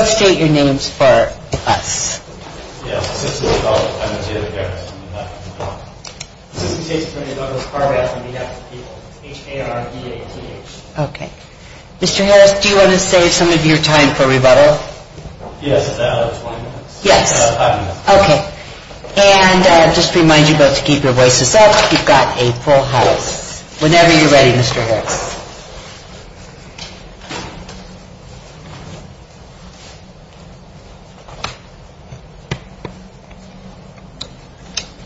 State your names for us. Mr. Harris, do you want to save some of your time for rebuttal? Yes. Five minutes. Okay. And just to remind you both to keep your voices up. You've got April Harris. Whenever you're ready, Mr. Harris.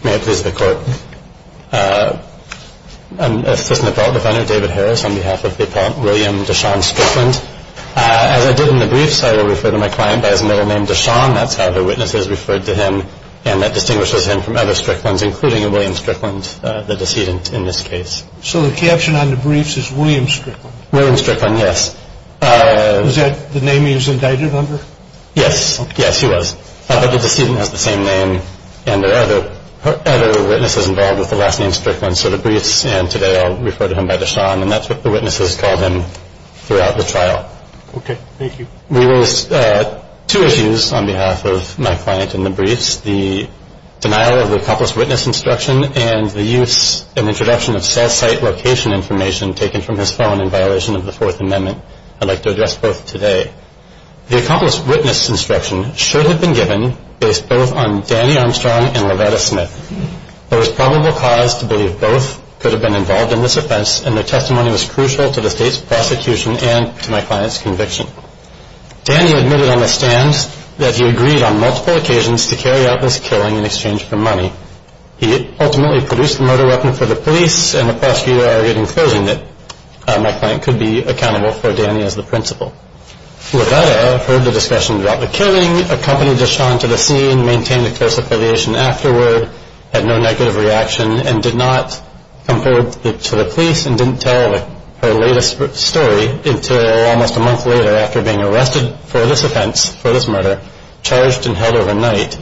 May it please the Court. I'm Assistant Appellate Defender David Harris on behalf of the appellant William Deshaun Strickland. As I did in the briefs, I will refer to my client by his middle name, Deshaun. That's how her witness is referred to him, and that distinguishes him from other defendants in this case. So the caption on the briefs is William Strickland? William Strickland, yes. Is that the name he was indicted under? Yes. Yes, he was. But the decedent has the same name, and there are other witnesses involved with the last name Strickland. So the briefs, and today I'll refer to him by Deshaun, and that's what the witnesses called him throughout the trial. Okay. Thank you. We raised two issues on behalf of my client in the briefs. The denial of the accomplice witness instruction and the use and introduction of cell site location information taken from his phone in violation of the Fourth Amendment. I'd like to address both today. The accomplice witness instruction should have been given based both on Danny Armstrong and Loretta Smith. There was probable cause to believe both could have been involved in this offense, and their testimony was crucial to the state's prosecution and to my client's conviction. Danny admitted on the stand that he agreed on multiple occasions to carry out this killing in exchange for money. He ultimately produced the murder weapon for the police, and the prosecutor argued in closing that my client could be accountable for Danny as the principal. Loretta heard the discussion about the killing, accompanied Deshaun to the scene, maintained a close affiliation afterward, had no negative reaction, and did not come forward to the police and didn't tell her latest story until almost a month later after being arrested for this offense, for this murder, charged and held overnight.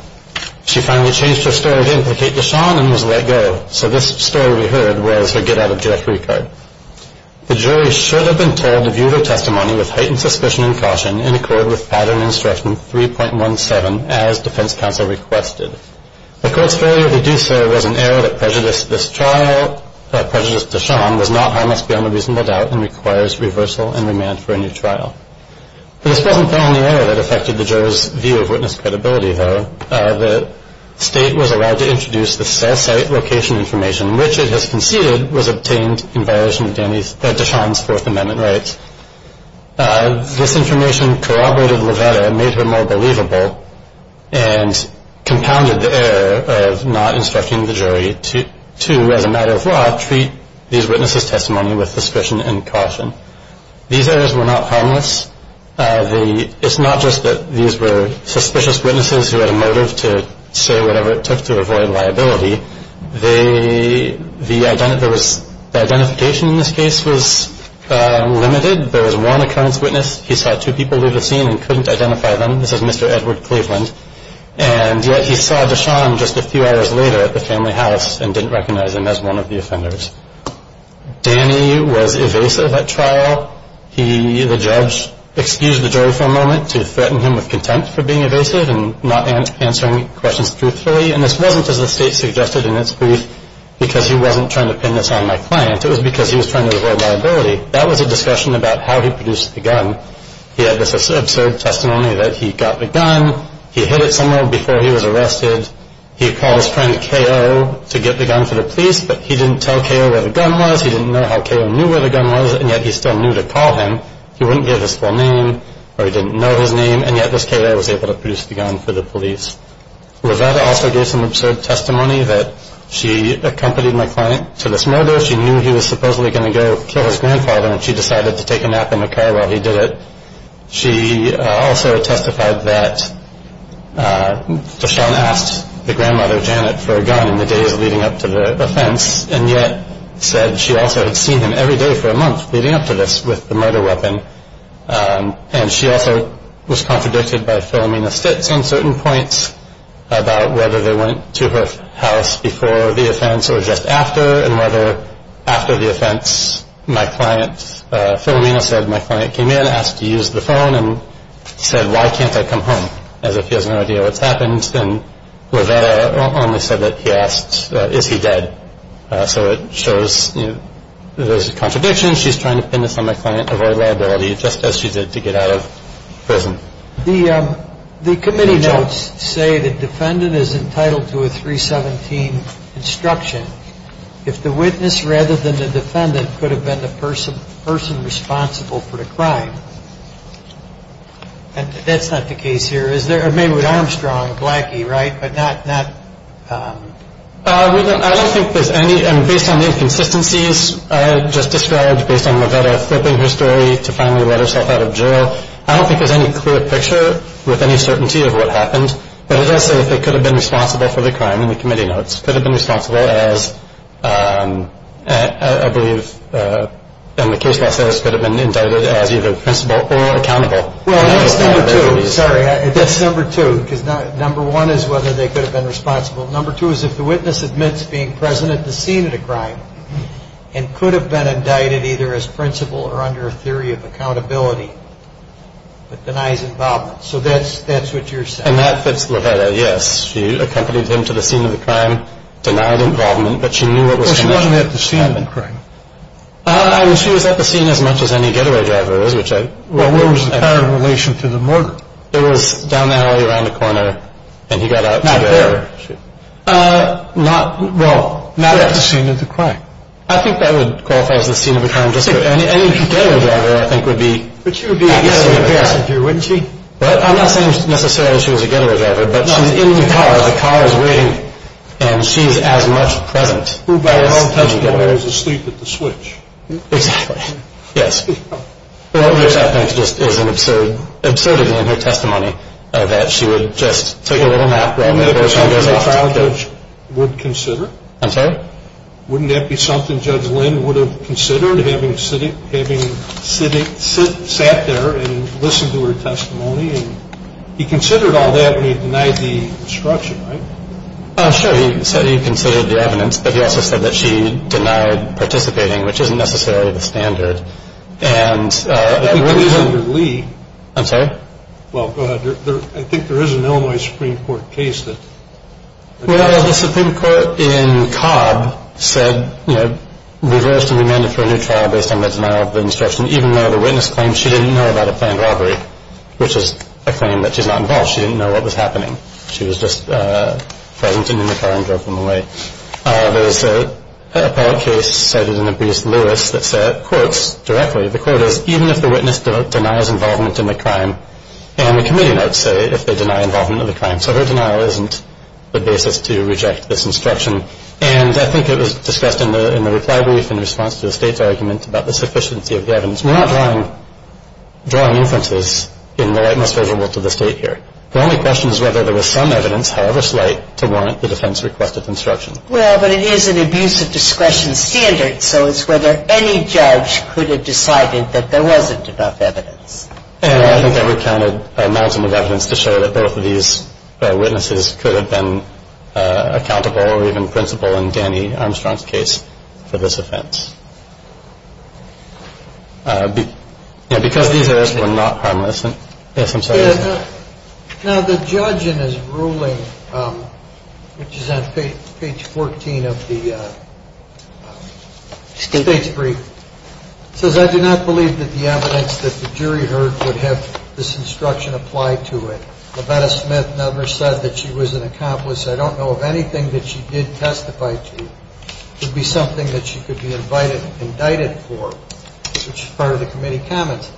She finally changed her story to implicate Deshaun and was let go. So this story we heard was her get-out-of-jail-free card. The jury should have been told to view their testimony with heightened suspicion and caution in accord with pattern instruction 3.17 as defense counsel requested. The court's failure to do so was an error that prejudiced this trial, prejudiced Deshaun, was not harmless beyond a reasonable doubt, and requires reversal and remand for a new trial. For this wasn't the only error that affected the juror's view of witness credibility, though. The state was allowed to introduce the cell site location information, which it has conceded was obtained in violation of Deshaun's Fourth Amendment rights. This information corroborated and made her more believable and compounded the error of not instructing the jury to, as a matter of law, treat these witnesses' testimony with suspicion and caution. These errors were not harmless. It's not just that these were suspicious witnesses who had a motive to say whatever it took to avoid liability. The identification in this case was limited. There was one occurrence witness. He saw two people leave the scene and couldn't identify them. This is Mr. Edward Cleveland. And yet he saw Deshaun just a few hours later at the family house and didn't recognize him as one of the offenders. Danny was evasive at trial. He, the judge, excused the jury for a moment to threaten him with contempt for being evasive and not answering questions truthfully. And this wasn't, as the state suggested in its brief, because he wasn't trying to pin this on my client. It was because he was trying to get the gun. He had this absurd testimony that he got the gun. He hid it somewhere before he was arrested. He called his friend K.O. to get the gun for the police, but he didn't tell K.O. where the gun was. He didn't know how K.O. knew where the gun was, and yet he still knew to call him. He wouldn't give his full name or he didn't know his name, and yet this K.O. was able to produce the gun for the police. Loretta also gave some absurd testimony that she accompanied my client to this murder. She knew he was supposedly going to go kill his grandfather, and she decided to take a nap in the car while he did it. She also testified that DeShawn asked the grandmother, Janet, for a gun in the days leading up to the offense, and yet said she also had seen him every day for a month leading up to this with the murder weapon. And she also was contradicted by Philomena Stitz on certain points about whether they went to her house before the offense or just after, and whether after the offense Philomena said my client came in, asked to use the phone, and said, why can't I come home, as if he has no idea what's happened. And Loretta only said that he asked, is he dead. So it shows there's a contradiction. She's trying to pin this on my client, avoid liability, just as she did to get out of prison. The committee notes say the defendant is entitled to a 317 instruction if the witness rather than the defendant could have been the person responsible for the crime. And that's not the case here, is there? Maybe with Armstrong, Blackie, right, but not... I don't think there's any, and based on the inconsistencies just described, based on Loretta flipping her story to finally let herself out of jail, I don't think there's any clear picture with any certainty of what happened. But it does say if they could have been responsible for the crime in the committee notes. Could have been responsible as, I believe in the case law says, could have been indicted as either principal or accountable. Well, that's number two. Sorry, that's number two. Because number one is whether they could have been responsible. Number two is if the witness admits being present at the scene of the crime and could have been indicted either as principal or under a theory of accountability, but denies involvement. So that's what you're saying. And that fits Loretta, yes. She accompanied him to the scene of the crime, denied involvement, but she knew what was going to happen. Well, she wasn't at the scene of the crime. I mean, she was at the scene as much as any getaway driver is, which I... Well, where was the car in relation to the murder? It was down the alley around the corner, and he got out to get her. Not there? Well, not at the scene of the crime. I think that would qualify as the scene of the crime. Any getaway driver, I think, would be at the scene of the crime. But she would be a getaway passenger, wouldn't she? Well, I'm not saying necessarily she was a getaway driver, but she's in the car. The car is waiting, and she's as much present as the getaway driver. Who, by all intents and purposes, was asleep at the switch. Exactly, yes. Which I think just is an absurdity in her testimony that she would just take a little nap... Wouldn't that be something the trial judge would consider? I'm sorry? Wouldn't that be something Judge Lynn would have considered, having sat there and listened to her testimony? He considered all that, and he denied the obstruction, right? Sure, he said he considered the evidence, but he also said that she denied participating, which isn't necessarily the standard. I think there is an Illinois Supreme Court case Well, the Supreme Court in Cobb said, you know, reversed and remanded for a new trial based on the denial of the obstruction, even though the witness claimed she didn't know about a planned robbery, which is a claim that she's not involved. She didn't know what was happening. She was just present and in the car and drove home away. There was an appellate case cited in the B.S. Lewis that said, quotes directly, the quote is, even if the witness denies involvement in the crime, and the committee notes say if they deny involvement in the crime. So her denial isn't the basis to reject this obstruction, and I think it was discussed in the reply brief in response to the State's argument about the sufficiency of the evidence. We're not drawing inferences in the light most visible to the State here. The only question is whether there was some evidence, however slight, to warrant the defense request of obstruction. Well, but it is an abuse of discretion standard, so it's whether any judge could have decided that there wasn't enough evidence. I think that we counted a maximum of evidence to show that both of these witnesses could have been accountable or even principled in Danny Armstrong's case for this offense. Because these errors were not harmless. Yes, I'm sorry. Now, the judge in his ruling, which is on page 14 of the State's brief, says, I do not believe that the evidence that the jury heard would have this instruction applied to it. Labetta Smith never said that she was an accomplice. I don't know of anything that she did testify to. It would be something that she could be indicted for, which is part of the committee comments.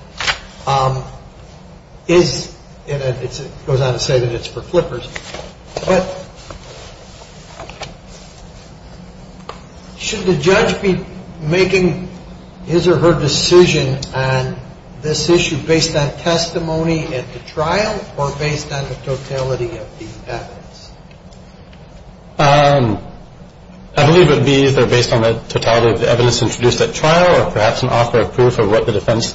It goes on to say that it's for flippers. But should the judge be making his or her decision on this issue based on testimony at the trial or based on the totality of the evidence? I believe it would be either based on the totality of the evidence introduced at trial or perhaps an offer of proof of what the defense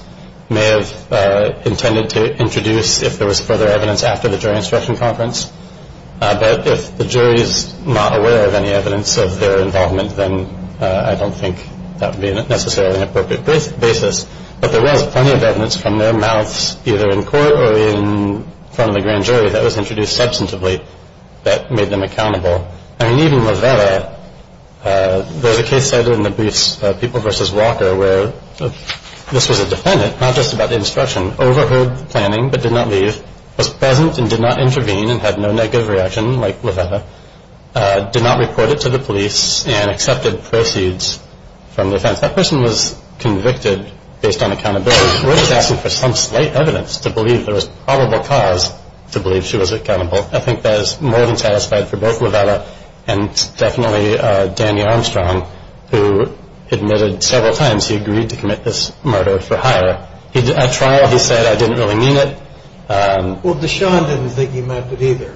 may have intended to introduce if there was further evidence after the jury instruction conference. But if the jury is not aware of any evidence of their involvement, then I don't think that would be necessarily an appropriate basis. But there was plenty of evidence from their mouths either in court or in front of the grand jury that was introduced substantively that made them accountable. I mean, even Labetta, there was a case cited in the briefs, People v. Walker, where this was a defendant, not just about the instruction, overheard the planning but did not leave, was present and did not intervene and had no negative reaction like Labetta, did not report it to the police, and accepted proceeds from the defense. That person was convicted based on accountability. We're just asking for some slight evidence to believe there was probable cause to believe she was accountable. I think that is more than satisfied for both Labetta and definitely Danny Armstrong, who admitted several times he agreed to commit this murder for hire. At trial, he said, I didn't really mean it. Well, Deshawn didn't think he meant it either,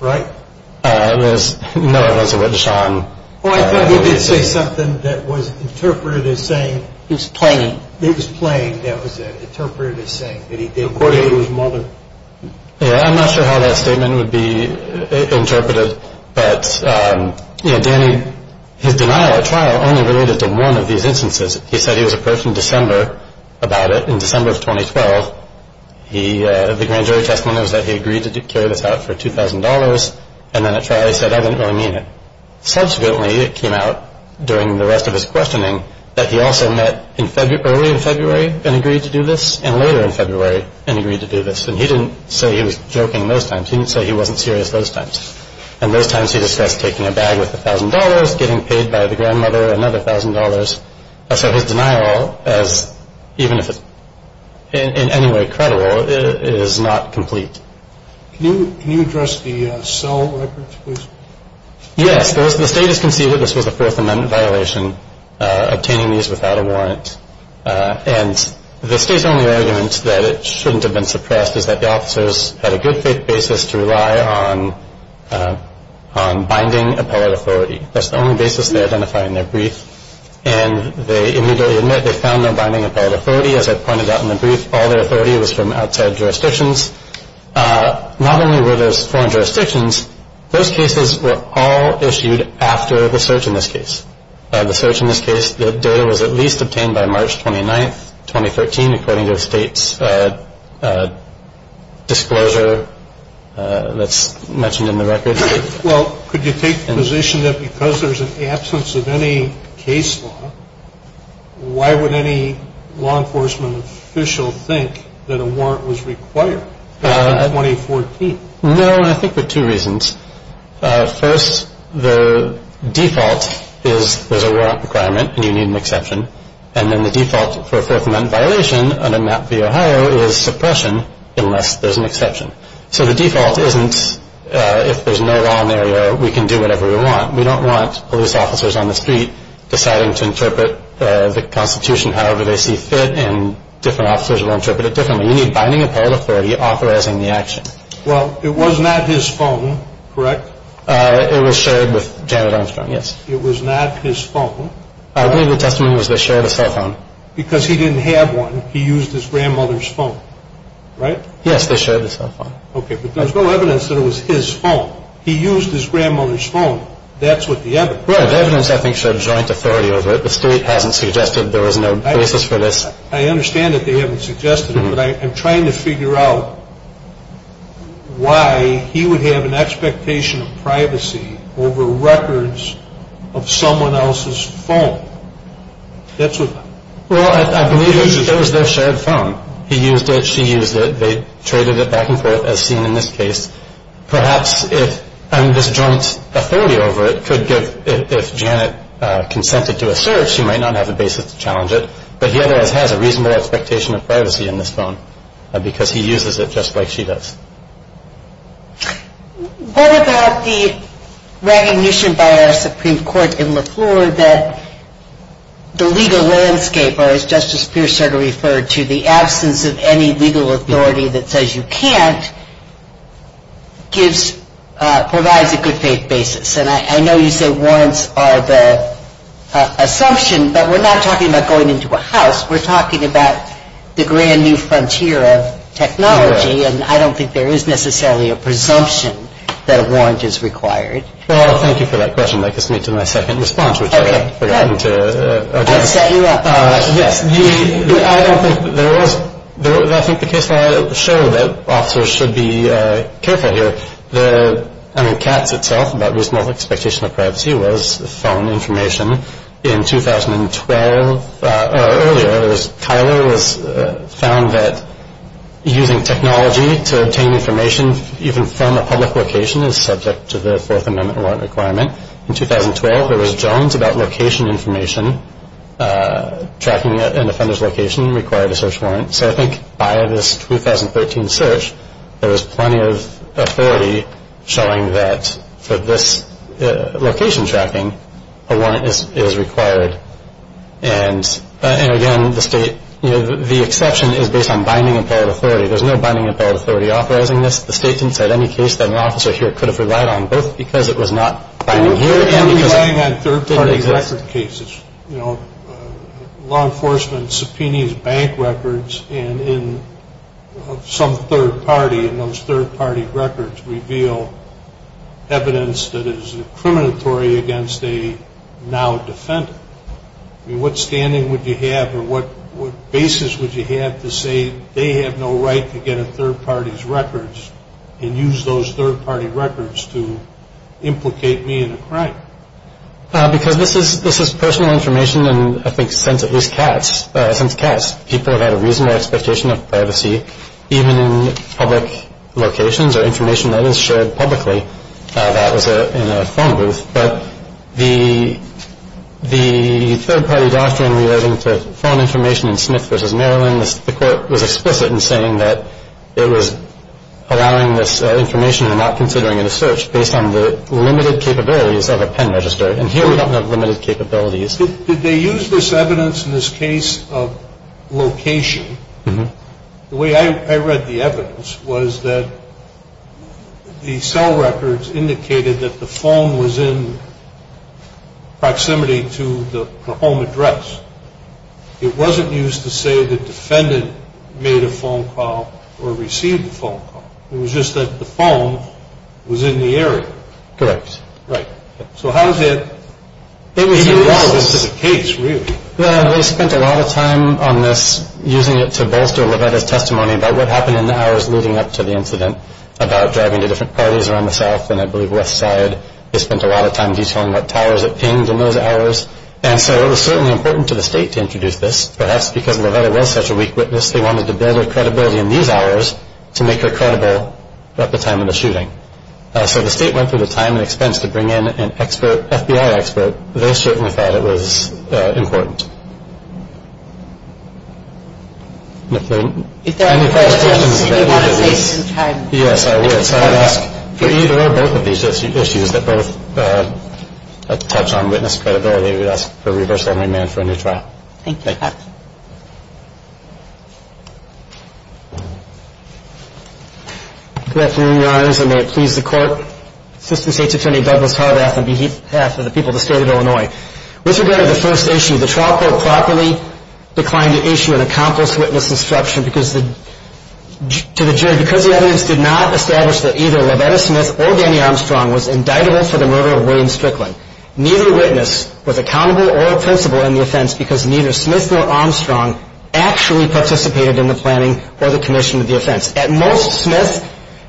right? No, it wasn't Deshawn. Well, I thought he did say something that was interpreted as saying. He was playing. He was playing, that was it, interpreted as saying that he didn't believe his mother. Yeah, I'm not sure how that statement would be interpreted. But, yeah, Danny, his denial at trial only related to one of these instances. He said he was approached in December about it, in December of 2012. The grand jury testimony was that he agreed to carry this out for $2,000, and then at trial he said, I didn't really mean it. Subsequently, it came out during the rest of his questioning that he also met early in February and agreed to do this and later in February and agreed to do this. And he didn't say he was joking those times. He didn't say he wasn't serious those times. And those times he discussed taking a bag worth $1,000, getting paid by the grandmother another $1,000, so his denial, even if it's in any way credible, is not complete. Can you address the cell records, please? Yes. The state has conceded that this was a Fourth Amendment violation, obtaining these without a warrant. And the state's only argument that it shouldn't have been suppressed is that the officers had a good faith basis to rely on binding appellate authority. That's the only basis they identify in their brief. And they immediately admit they found no binding appellate authority. As I pointed out in the brief, all their authority was from outside jurisdictions. Not only were those foreign jurisdictions, those cases were all issued after the search in this case. The search in this case, the data was at least obtained by March 29, 2013, according to the state's disclosure that's mentioned in the record. Well, could you take the position that because there's an absence of any case law, why would any law enforcement official think that a warrant was required back in 2014? No, and I think for two reasons. First, the default is there's a warrant requirement and you need an exception. And then the default for a Fourth Amendment violation under MAP v. Ohio is suppression unless there's an exception. So the default isn't if there's no law in the area, we can do whatever we want. We don't want police officers on the street deciding to interpret the Constitution however they see fit and different officers will interpret it differently. You need binding appellate authority authorizing the action. Well, it was not his phone, correct? It was shared with Janet Armstrong, yes. It was not his phone. I believe the testimony was they shared a cell phone. Because he didn't have one. He used his grandmother's phone, right? Yes, they shared the cell phone. Okay, but there's no evidence that it was his phone. He used his grandmother's phone. That's what the evidence is. Right, the evidence I think showed joint authority over it. The state hasn't suggested there was no basis for this. I understand that they haven't suggested it, but I'm trying to figure out why he would have an expectation of privacy over records of someone else's phone. That's what that is. Well, I believe it was their shared phone. He used it. She used it. They traded it back and forth as seen in this case. Perhaps if this joint authority over it could give, if Janet consented to a search, she might not have a basis to challenge it, but he otherwise has a reasonable expectation of privacy in this phone because he uses it just like she does. What about the recognition by our Supreme Court in Lafleur that the legal landscape, or as Justice Pierce sort of referred to, the absence of any legal authority that says you can't provides a good faith basis? And I know you say warrants are the assumption, but we're not talking about going into a house. We're talking about the grand new frontier of technology, and I don't think there is necessarily a presumption that a warrant is required. Well, thank you for that question. That gets me to my second response, which I had forgotten to address. Yes. I don't think there was, I think the case file showed that officers should be careful here. The, I mean, Katz itself about reasonable expectation of privacy was phone information. In 2012, or earlier, it was Tyler was found that using technology to obtain information, even from a public location, is subject to the Fourth Amendment warrant requirement. In 2012, there was Jones about location information. Tracking an offender's location required a search warrant. So I think by this 2013 search, there was plenty of authority showing that for this location tracking, a warrant is required. And, again, the state, you know, the exception is based on binding appellate authority. There's no binding appellate authority authorizing this. The state didn't cite any case that an officer here could have relied on, both because it was not binding. We're relying on third-party record cases. You know, law enforcement subpoenas bank records, and in some third party, and those third-party records reveal evidence that is incriminatory against a now defendant. I mean, what standing would you have, or what basis would you have to say they have no right to get a third party's records and use those third-party records to implicate me in a crime? Because this is personal information, and I think since at least Katz, people have had a reasonable expectation of privacy, even in public locations, or information that is shared publicly, that was in a phone booth. But the third-party doctrine relating to phone information in Smith v. Maryland, the court was explicit in saying that it was allowing this information and not considering it a search based on the limited capabilities of a pen register. And here we don't have limited capabilities. Did they use this evidence in this case of location? The way I read the evidence was that the cell records indicated that the phone was in proximity to the home address. It wasn't used to say the defendant made a phone call or received a phone call. It was just that the phone was in the area. Correct. Right. So how is that in the case, really? Well, they spent a lot of time on this, using it to bolster Levetta's testimony about what happened in the hours leading up to the incident, about driving to different parties around the South and I believe West Side. They spent a lot of time detailing what towers it pinged in those hours. And so it was certainly important to the state to introduce this. Perhaps because Levetta was such a weak witness, they wanted to build her credibility in these hours to make her credible at the time of the shooting. So the state went through the time and expense to bring in an FBI expert. They certainly thought it was important. If there are any questions, if you want to save some time. Yes, I would. Yes, I would ask for either or both of these issues that both touch on witness credibility. I would ask for reversal and remand for a new trial. Thank you. Thank you. Good afternoon, Your Honors, and may it please the Court. Assistant State's Attorney Douglas Harbath on behalf of the people of the State of Illinois. With regard to the first issue, the trial court properly declined to issue an accomplice witness instruction to the jury because the evidence did not establish that either Levetta Smith or Danny Armstrong was indictable for the murder of William Strickland. Neither witness was accountable or offensible in the offense because neither Smith nor Armstrong actually participated in the planning or the commission of the offense. At most, Smith,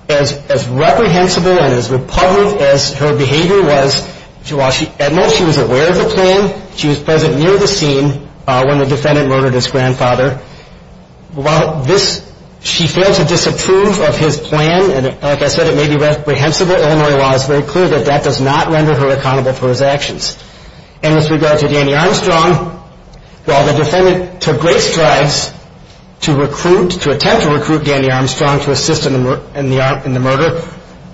as reprehensible and as repugnant as her behavior was, at most she was aware of the plan. She was present near the scene when the defendant murdered his grandfather. While this, she failed to disapprove of his plan, and like I said, it may be reprehensible. Illinois law is very clear that that does not render her accountable for his actions. And with regard to Danny Armstrong, while the defendant took great strides to recruit, to attempt to recruit Danny Armstrong to assist in the murder,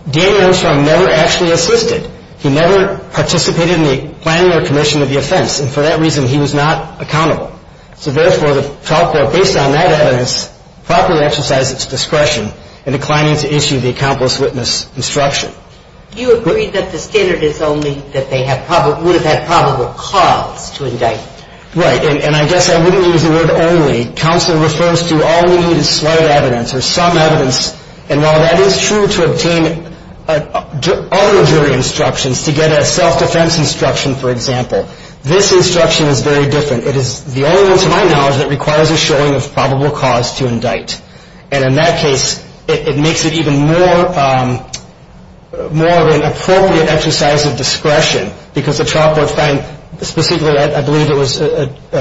Danny Armstrong never actually assisted. He never participated in the planning or commission of the offense, and for that reason he was not accountable. So therefore, the trial court, based on that evidence, properly exercised its discretion in declining to issue the accomplice witness instruction. You agree that the standard is only that they would have had probable cause to indict. Right, and I guess I wouldn't use the word only. Counsel refers to all we need is slight evidence or some evidence, and while that is true to obtain other jury instructions, to get a self-defense instruction, for example, this instruction is very different. It is the only one, to my knowledge, that requires a showing of probable cause to indict. And in that case, it makes it even more of an appropriate exercise of discretion because the trial court found specifically, I believe it was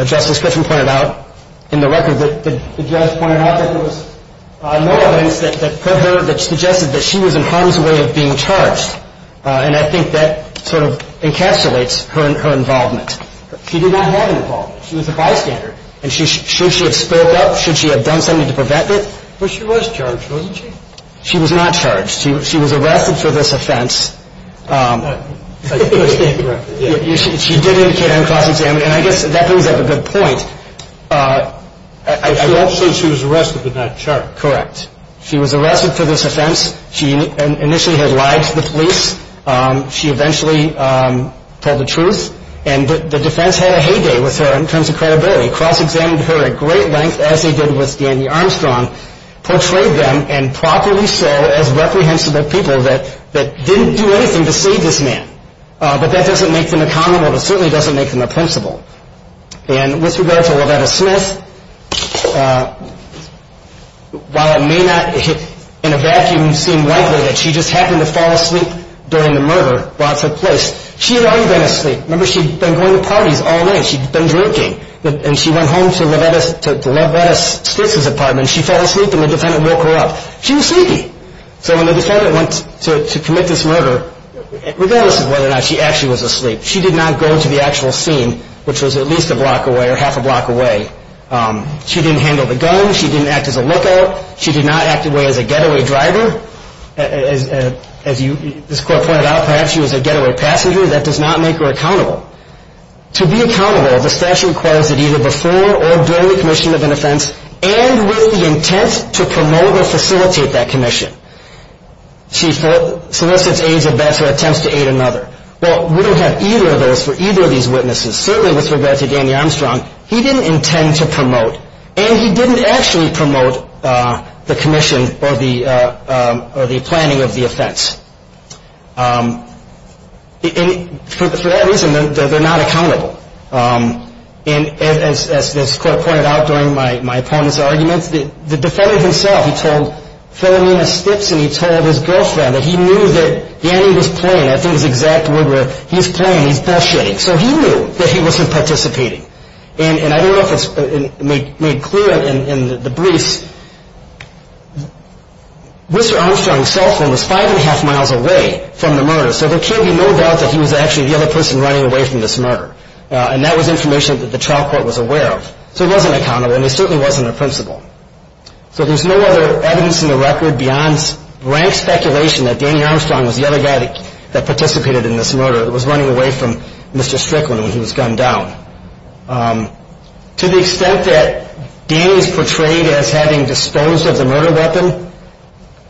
Justice Griffin pointed out in the record, that the judge pointed out that there was no evidence that put her, that suggested that she was in harm's way of being charged. And I think that sort of encapsulates her involvement. She did not have involvement. She was a bystander, and should she have spoke up? Should she have done something to prevent it? But she was charged, wasn't she? She was not charged. She was arrested for this offense. If I understand correctly, yes. She did indicate her cross-examination, and I guess that brings up a good point. Correct. She was arrested for this offense. She initially had lied to the police. She eventually told the truth, and the defense had a heyday with her in terms of credibility. Cross-examined her at great length, as they did with Danny Armstrong, portrayed them, and properly so, as reprehensible people that didn't do anything to save this man. But that doesn't make them accountable. It certainly doesn't make them a principal. And with regard to Lovetta Smith, while it may not in a vacuum seem likely that she just happened to fall asleep during the murder, while it took place, she had already been asleep. Remember, she'd been going to parties all night. She'd been drinking, and she went home to Lovetta Smith's apartment. She fell asleep, and the defendant woke her up. She was sleepy. So when the defendant went to commit this murder, regardless of whether or not she actually was asleep, she did not go to the actual scene, which was at least a block away or half a block away. She didn't handle the gun. She didn't act as a lookout. She did not act away as a getaway driver. As this court pointed out, perhaps she was a getaway passenger. That does not make her accountable. To be accountable, the statute requires that either before or during the commission of an offense, and with the intent to promote or facilitate that commission, she solicits aides or vets or attempts to aid another. Well, we don't have either of those for either of these witnesses. Certainly, with regard to Danny Armstrong, he didn't intend to promote, and he didn't actually promote the commission or the planning of the offense. And for that reason, they're not accountable. And as this court pointed out during my opponent's arguments, the defendant himself, he told Philomena Stips and he told his girlfriend that he knew that Danny was playing. I think it's the exact word where he's playing, he's bullshitting. So he knew that he wasn't participating. And I don't know if it's made clear in the briefs. Mr. Armstrong's cell phone was five and a half miles away from the murder, so there can be no doubt that he was actually the other person running away from this murder. And that was information that the trial court was aware of. So he wasn't accountable, and he certainly wasn't a principal. So there's no other evidence in the record beyond rank speculation that Danny Armstrong was the other guy that participated in this murder. It was running away from Mr. Strickland when he was gunned down. To the extent that Danny is portrayed as having disposed of the murder weapon,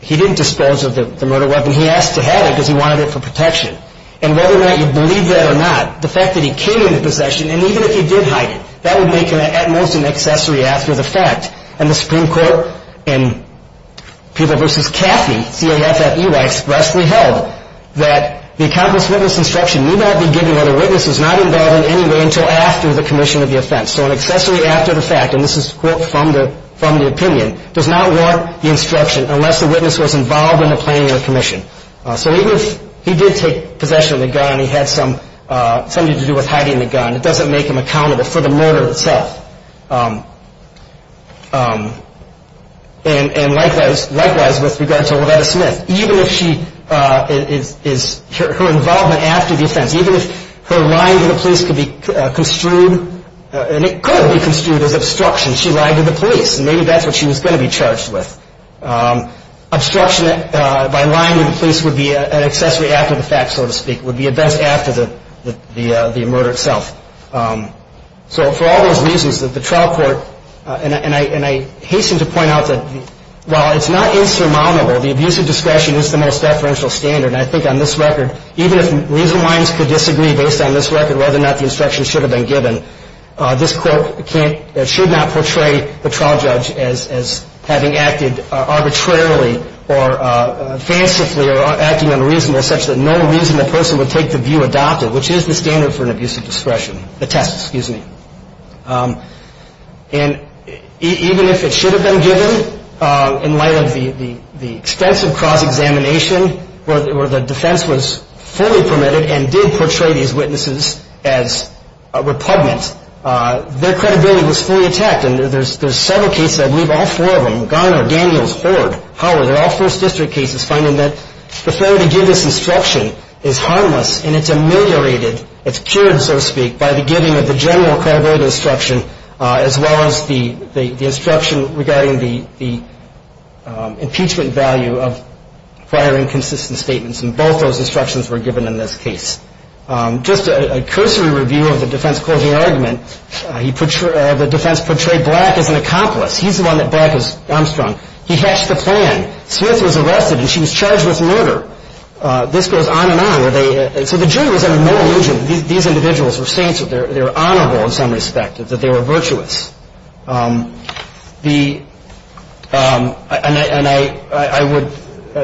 he didn't dispose of the murder weapon. He asked to have it because he wanted it for protection. And whether or not you believe that or not, the fact that he came into possession, and even if he did hide it, that would make him at most an accessory after the fact. And the Supreme Court in Peeble v. Caffey, C-A-F-F-E-Y, expressly held that the accomplice witness instruction need not be given when a witness is not involved in any way until after the commission of the offense. So an accessory after the fact, and this is a quote from the opinion, does not warrant the instruction unless the witness was involved in the planning of the commission. So even if he did take possession of the gun and he had something to do with hiding the gun, it doesn't make him accountable for the murder itself. And likewise with regard to Loretta Smith. Even if her involvement after the offense, even if her lying to the police could be construed, and it could be construed as obstruction, she lied to the police. Maybe that's what she was going to be charged with. Obstruction by lying to the police would be an accessory after the fact, so to speak. It would be a vest after the murder itself. So for all those reasons that the trial court, and I hasten to point out that while it's not insurmountable, the abuse of discretion is the most deferential standard. And I think on this record, even if reasoned minds could disagree based on this record whether or not the instruction should have been given, this quote should not portray the trial judge as having acted arbitrarily or fancifully or acting unreasonably such that no reasonable person would take the view adopted, which is the standard for an abuse of discretion. The test, excuse me. And even if it should have been given, in light of the extensive cross-examination where the defense was fully permitted and did portray these witnesses as repugnant, their credibility was fully attacked. And there's several cases, I believe all four of them, Garner, Daniels, Ford, Howard, they're all first district cases, finding that the failure to give this instruction is harmless and it's ameliorated, it's cured, so to speak, by the giving of the general credibility instruction as well as the instruction regarding the impeachment value of prior inconsistent statements. And both those instructions were given in this case. Just a cursory review of the defense closing argument, the defense portrayed Black as an accomplice. He's the one that Black has armstrung. He hatched the plan. Smith was arrested and she was charged with murder. This goes on and on. So the jury was under no illusion that these individuals were saints, that they were honorable in some respect, that they were virtuous. And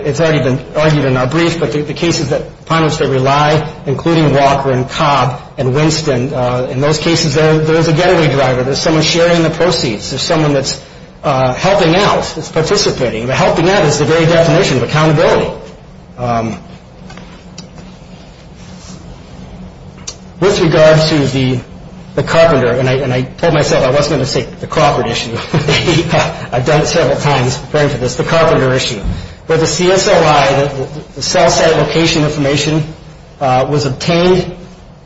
it's already been argued in our brief, but the cases upon which they rely, including Walker and Cobb and Winston, in those cases there is a getaway driver. There's someone sharing the proceeds. There's someone that's helping out, that's participating. Helping out is the very definition of accountability. With regard to the Carpenter, and I told myself I wasn't going to say the Crawford issue. I've done it several times referring to this, the Carpenter issue, where the CSOI, the cell site location information, was obtained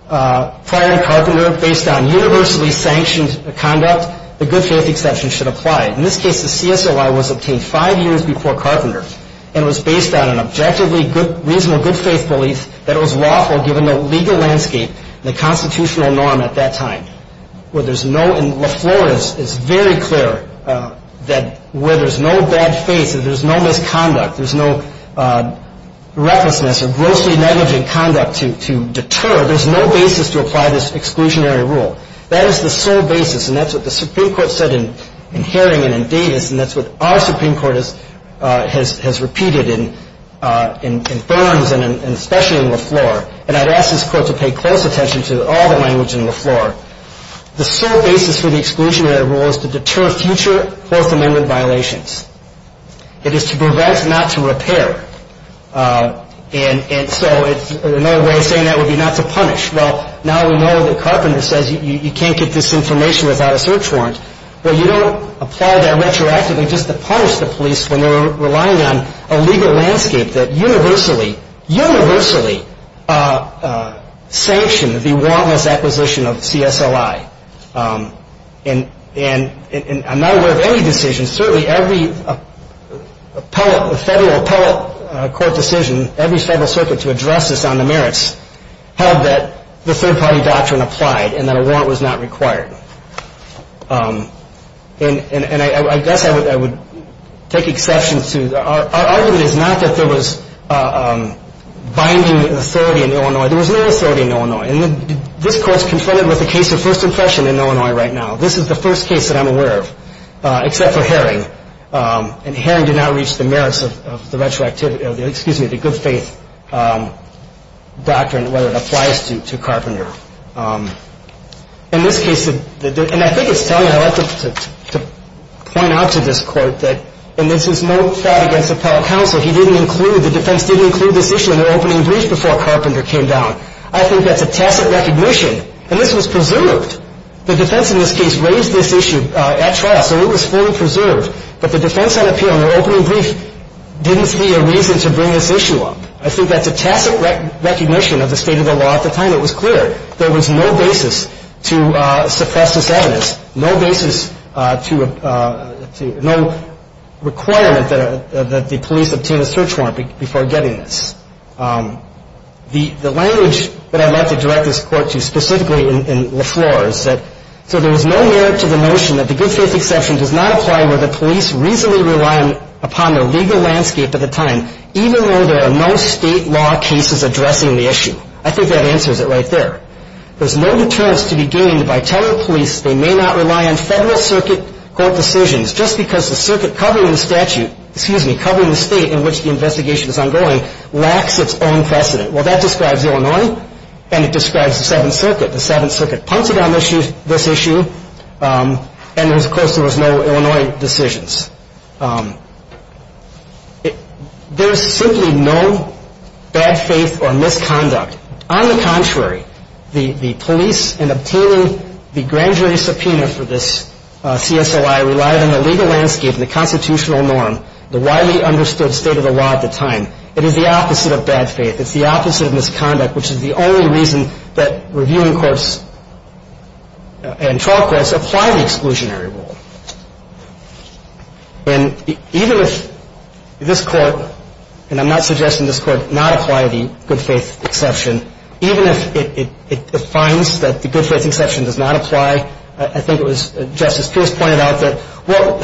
prior to Carpenter based on universally sanctioned conduct, the good faith exception should apply. In this case, the CSOI was obtained five years before Carpenter, and it was based on an objectively reasonable good faith belief that it was lawful, given the legal landscape and the constitutional norm at that time. Where there's no, in La Flores, it's very clear that where there's no bad faith, there's no misconduct, there's no recklessness or grossly negligent conduct to deter, there's no basis to apply this exclusionary rule. That is the sole basis, and that's what the Supreme Court said in Harrington and Davis, and that's what our Supreme Court has repeated in Burns and especially in La Flores. And I'd ask this Court to pay close attention to all the language in La Flores. The sole basis for the exclusionary rule is to deter future Fourth Amendment violations. It is to prevent, not to repair. And so another way of saying that would be not to punish. Well, now we know that Carpenter says you can't get this information without a search warrant. Well, you don't apply that retroactively just to punish the police when they're relying on a legal landscape that universally, universally sanctioned the wantless acquisition of CSOI. And I'm not aware of any decisions. Certainly every appellate, federal appellate court decision, every federal circuit to address this on the merits held that the third-party doctrine applied and that a warrant was not required. And I guess I would take exception to our argument is not that there was binding authority in Illinois. There was no authority in Illinois. And this Court's confronted with a case of first impression in Illinois right now. This is the first case that I'm aware of, except for Herring. And Herring did not reach the merits of the retroactivity of the, excuse me, the good faith doctrine, whether it applies to Carpenter. In this case, and I think it's telling, I'd like to point out to this Court that, and this is no fraud against appellate counsel. He didn't include, the defense didn't include this issue in their opening brief before Carpenter came down. I think that's a tacit recognition. And this was preserved. The defense in this case raised this issue at trial, so it was fully preserved. But the defense on appeal in their opening brief didn't see a reason to bring this issue up. I think that's a tacit recognition of the state of the law at the time. It was clear there was no basis to suppress this evidence, no basis to, no requirement that the police obtain a search warrant before getting this. The language that I'd like to direct this Court to specifically in LaFleur is that, so there was no merit to the notion that the good faith exception does not apply where the police reasonably rely upon the legal landscape at the time, even though there are no state law cases addressing the issue. I think that answers it right there. There's no deterrence to be gained by telling the police they may not rely on Federal Circuit court decisions, just because the Circuit covering the statute, excuse me, covering the state in which the investigation is ongoing, lacks its own precedent. Well, that describes Illinois, and it describes the Seventh Circuit. The Seventh Circuit punted on this issue, and, of course, there was no Illinois decisions. There's simply no bad faith or misconduct. On the contrary, the police in obtaining the grand jury subpoena for this CSLI relied on the legal landscape and the constitutional norm, the widely understood state of the law at the time. It is the opposite of bad faith. It's the opposite of misconduct, which is the only reason that reviewing courts and trial courts apply the exclusionary rule. And even if this Court, and I'm not suggesting this Court not apply the good faith exception, even if it defines that the good faith exception does not apply, I think it was Justice Pierce pointed out that, well,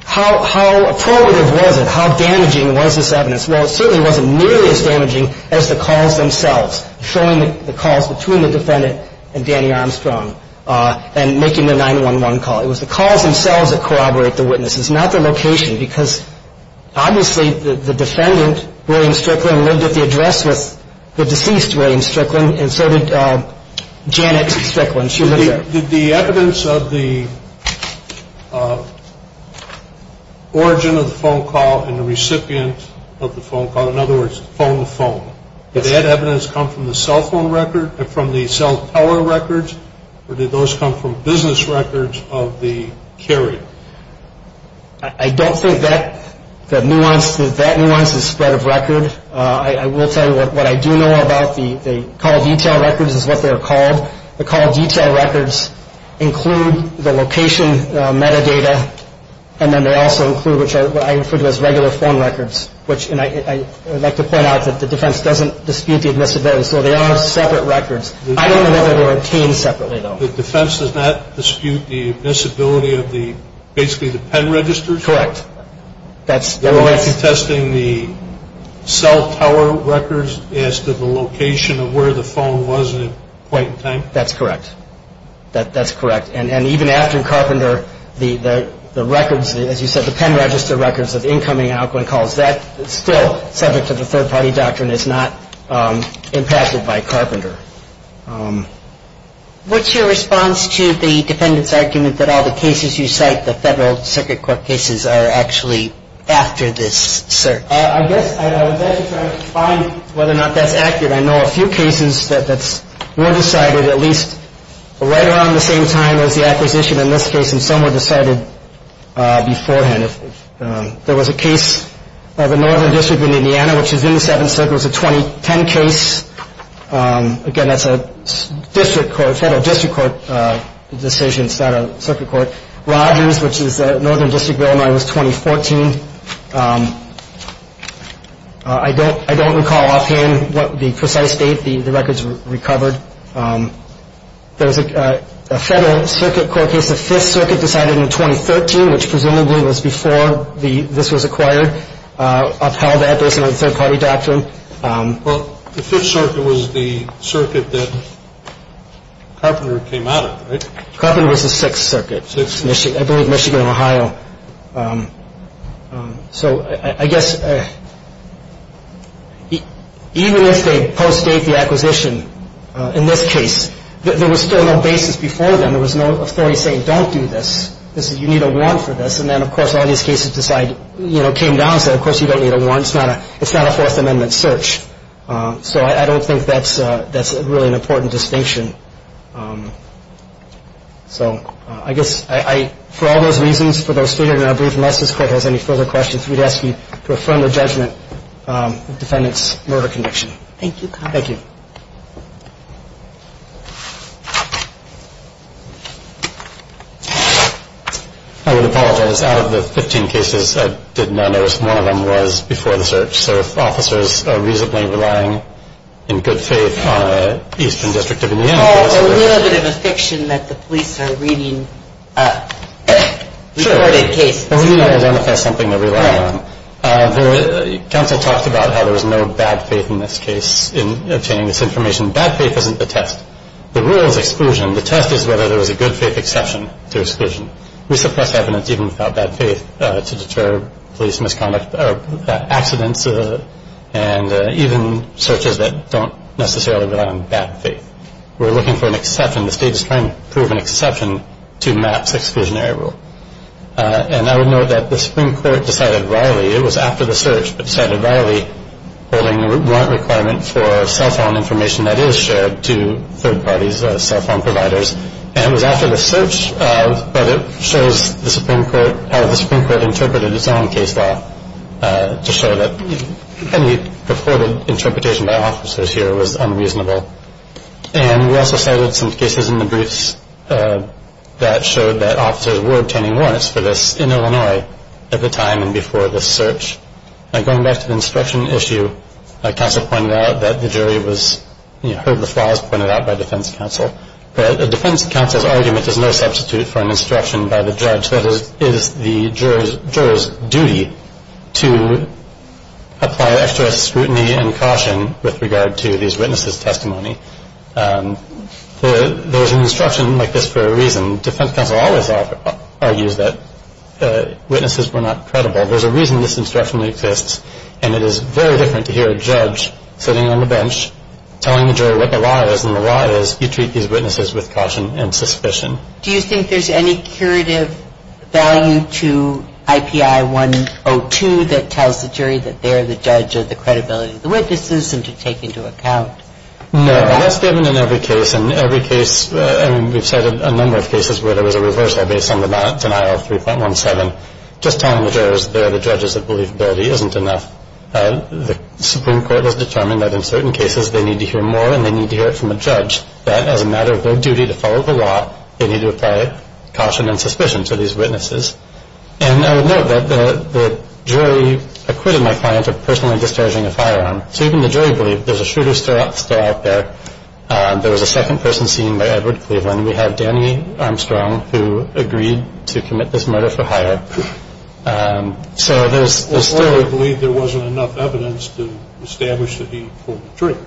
how appropriative was it? How damaging was this evidence? Well, it certainly wasn't nearly as damaging as the calls themselves, showing the calls between the defendant and Danny Armstrong, and making the 911 call. It was the calls themselves that corroborate the witnesses, not the location, because obviously the defendant, William Strickland, lived at the address with the deceased William Strickland, and so did Janet Strickland. Did the evidence of the origin of the phone call and the recipient of the phone call, in other words, phone to phone, did that evidence come from the cell phone record and from the cell tower records, or did those come from business records of the carrier? I don't think that nuance is spread of record. I will tell you what I do know about the call detail records is what they're called. The call detail records include the location metadata, and then they also include what I refer to as regular phone records, and I would like to point out that the defense doesn't dispute the admissibility, so they are separate records. I don't know whether they were obtained separately, though. The defense does not dispute the admissibility of basically the pen registers? Correct. They weren't contesting the cell tower records as to the location of where the phone was at the point in time? That's correct. That's correct, and even after Carpenter, the records, as you said, the pen register records of incoming and outgoing calls, that is still subject to the third-party doctrine. It's not impacted by Carpenter. What's your response to the defendant's argument that all the cases you cite, the federal circuit court cases, are actually after this search? I guess I was actually trying to find whether or not that's accurate. I know a few cases that were decided at least right around the same time as the acquisition in this case, and some were decided beforehand. There was a case of a northern district in Indiana, which is in the Seventh Circuit. It was a 2010 case. Again, that's a district court, federal district court decision, it's not a circuit court. Rogers, which is a northern district bill, and I was 2014. I don't recall offhand what the precise date the records were recovered. There was a federal circuit court case, the Fifth Circuit decided in 2013, which presumably was before this was acquired, upheld that based on the third-party doctrine. Well, the Fifth Circuit was the circuit that Carpenter came out of, right? Carpenter was the Sixth Circuit. I believe Michigan and Ohio. So I guess even if they post-date the acquisition in this case, there was still no basis before then. There was no authority saying, don't do this, you need a warrant for this. And then, of course, all these cases came down and said, of course, you don't need a warrant. It's not a Fourth Amendment search. So I don't think that's really an important distinction. So I guess for all those reasons, for those three, and I believe unless this court has any further questions, we'd ask you to affirm the judgment of the defendant's murder conviction. Thank you. Thank you. I would apologize. Out of the 15 cases, I did not notice one of them was before the search. So if officers are reasonably relying in good faith on an Eastern District of Indiana case. A little bit of a fiction that the police are reading reported cases. We need to identify something to rely on. The counsel talked about how there was no bad faith in this case in obtaining this information. Bad faith isn't the test. The rule is exclusion. The test is whether there was a good faith exception to exclusion. We suppress evidence even without bad faith to deter police misconduct or accidents and even searches that don't necessarily rely on bad faith. We're looking for an exception. The state is trying to prove an exception to MAP's exclusionary rule. And I would note that the Supreme Court decided riley, it was after the search, but decided riley holding the warrant requirement for cell phone information that is shared to third parties, cell phone providers. And it was after the search, but it shows how the Supreme Court interpreted its own case law to show that any purported interpretation by officers here was unreasonable. And we also cited some cases in the briefs that showed that officers were obtaining warrants for this in Illinois at the time and before the search. Now going back to the inspection issue, counsel pointed out that the jury heard the flaws pointed out by defense counsel. But the defense counsel's argument is no substitute for an instruction by the judge. That is the juror's duty to apply extra scrutiny and caution with regard to these witnesses' testimony. There's an instruction like this for a reason. Defense counsel always argues that witnesses were not credible. There's a reason this instruction exists. And it is very different to hear a judge sitting on the bench telling the juror what the law is and the law is you treat these witnesses with caution and suspicion. Do you think there's any curative value to IPI 102 that tells the jury that they're the judge of the credibility of the witnesses and to take into account that? No. That's given in every case. In every case, I mean, we've cited a number of cases where there was a reversal based on the manatee denial of 3.17. Just telling the jurors they're the judges of believability isn't enough. The Supreme Court has determined that in certain cases they need to hear more and they need to hear it from a judge that as a matter of their duty to follow the law, they need to apply caution and suspicion to these witnesses. And I would note that the jury acquitted my client of personally discharging a firearm. So even the jury believed there's a shooter still out there. There was a second person seen by Edward Cleveland. We have Danny Armstrong who agreed to commit this murder for hire. So there's still... Or they believed there wasn't enough evidence to establish that he pulled the trigger.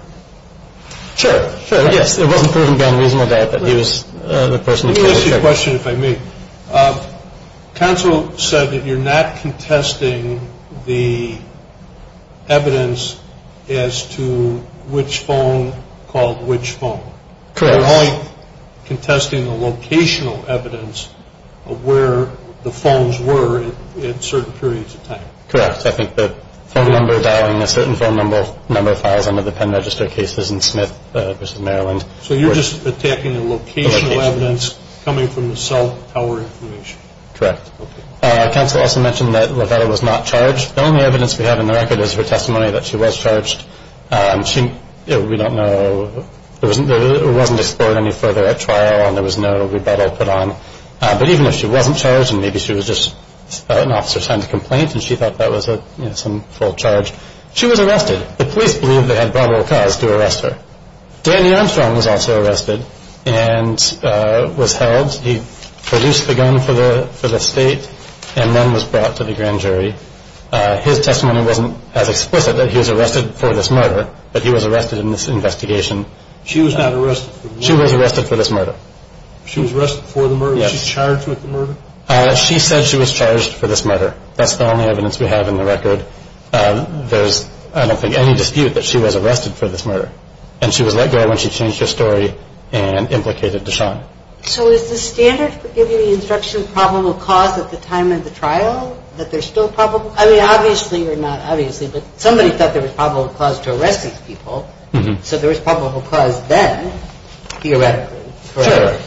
Sure. Sure, yes. It wasn't proven beyond reasonable doubt that he was the person who pulled the trigger. Let me ask you a question if I may. Counsel said that you're not contesting the evidence as to which phone called which phone. Correct. You're only contesting the locational evidence of where the phones were at certain periods of time. Correct. I think the phone number dialing a certain phone number files under the pen register cases in Smith versus Maryland. So you're just attacking the locational evidence coming from the cell tower information. Correct. Okay. Counsel also mentioned that LaVetta was not charged. The only evidence we have in the record is her testimony that she was charged. We don't know... It wasn't explored any further at trial and there was no rebuttal put on. But even if she wasn't charged and maybe she was just an officer signed a complaint and she thought that was some full charge, she was arrested. The police believed they had probable cause to arrest her. Danny Armstrong was also arrested and was held. He produced the gun for the state and then was brought to the grand jury. His testimony wasn't as explicit that he was arrested for this murder, but he was arrested in this investigation. She was not arrested. She was arrested for this murder. She was arrested for the murder? Yes. Was she charged with the murder? She said she was charged for this murder. That's the only evidence we have in the record. There's, I don't think, any dispute that she was arrested for this murder. And she was let go when she changed her story and implicated Deshawn. So is the standard for giving the instruction probable cause at the time of the trial that there's still probable cause? I mean, obviously or not obviously, but somebody thought there was probable cause to arrest these people, so there was probable cause then, theoretically. Sure.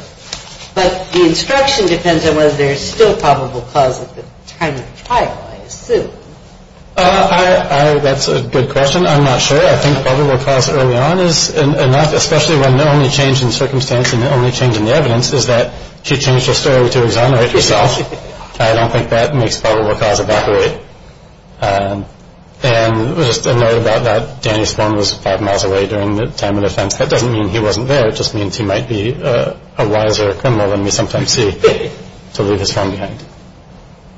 But the instruction depends on whether there's still probable cause at the time of the trial, I assume. That's a good question. I'm not sure. I think probable cause early on is enough, especially when the only change in circumstance and the only change in the evidence is that she changed her story to exonerate herself. I don't think that makes probable cause evaporate. And just a note about that, Danny's phone was five miles away during the time of the offense. That doesn't mean he wasn't there. It just means he might be a wiser criminal than we sometimes see to leave his phone behind.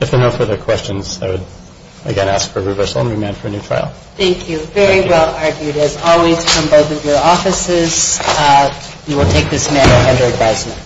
If there are no further questions, I would, again, ask for reversal and remand for a new trial. Thank you. Very well argued, as always, from both of your offices. We will take this matter under advisement.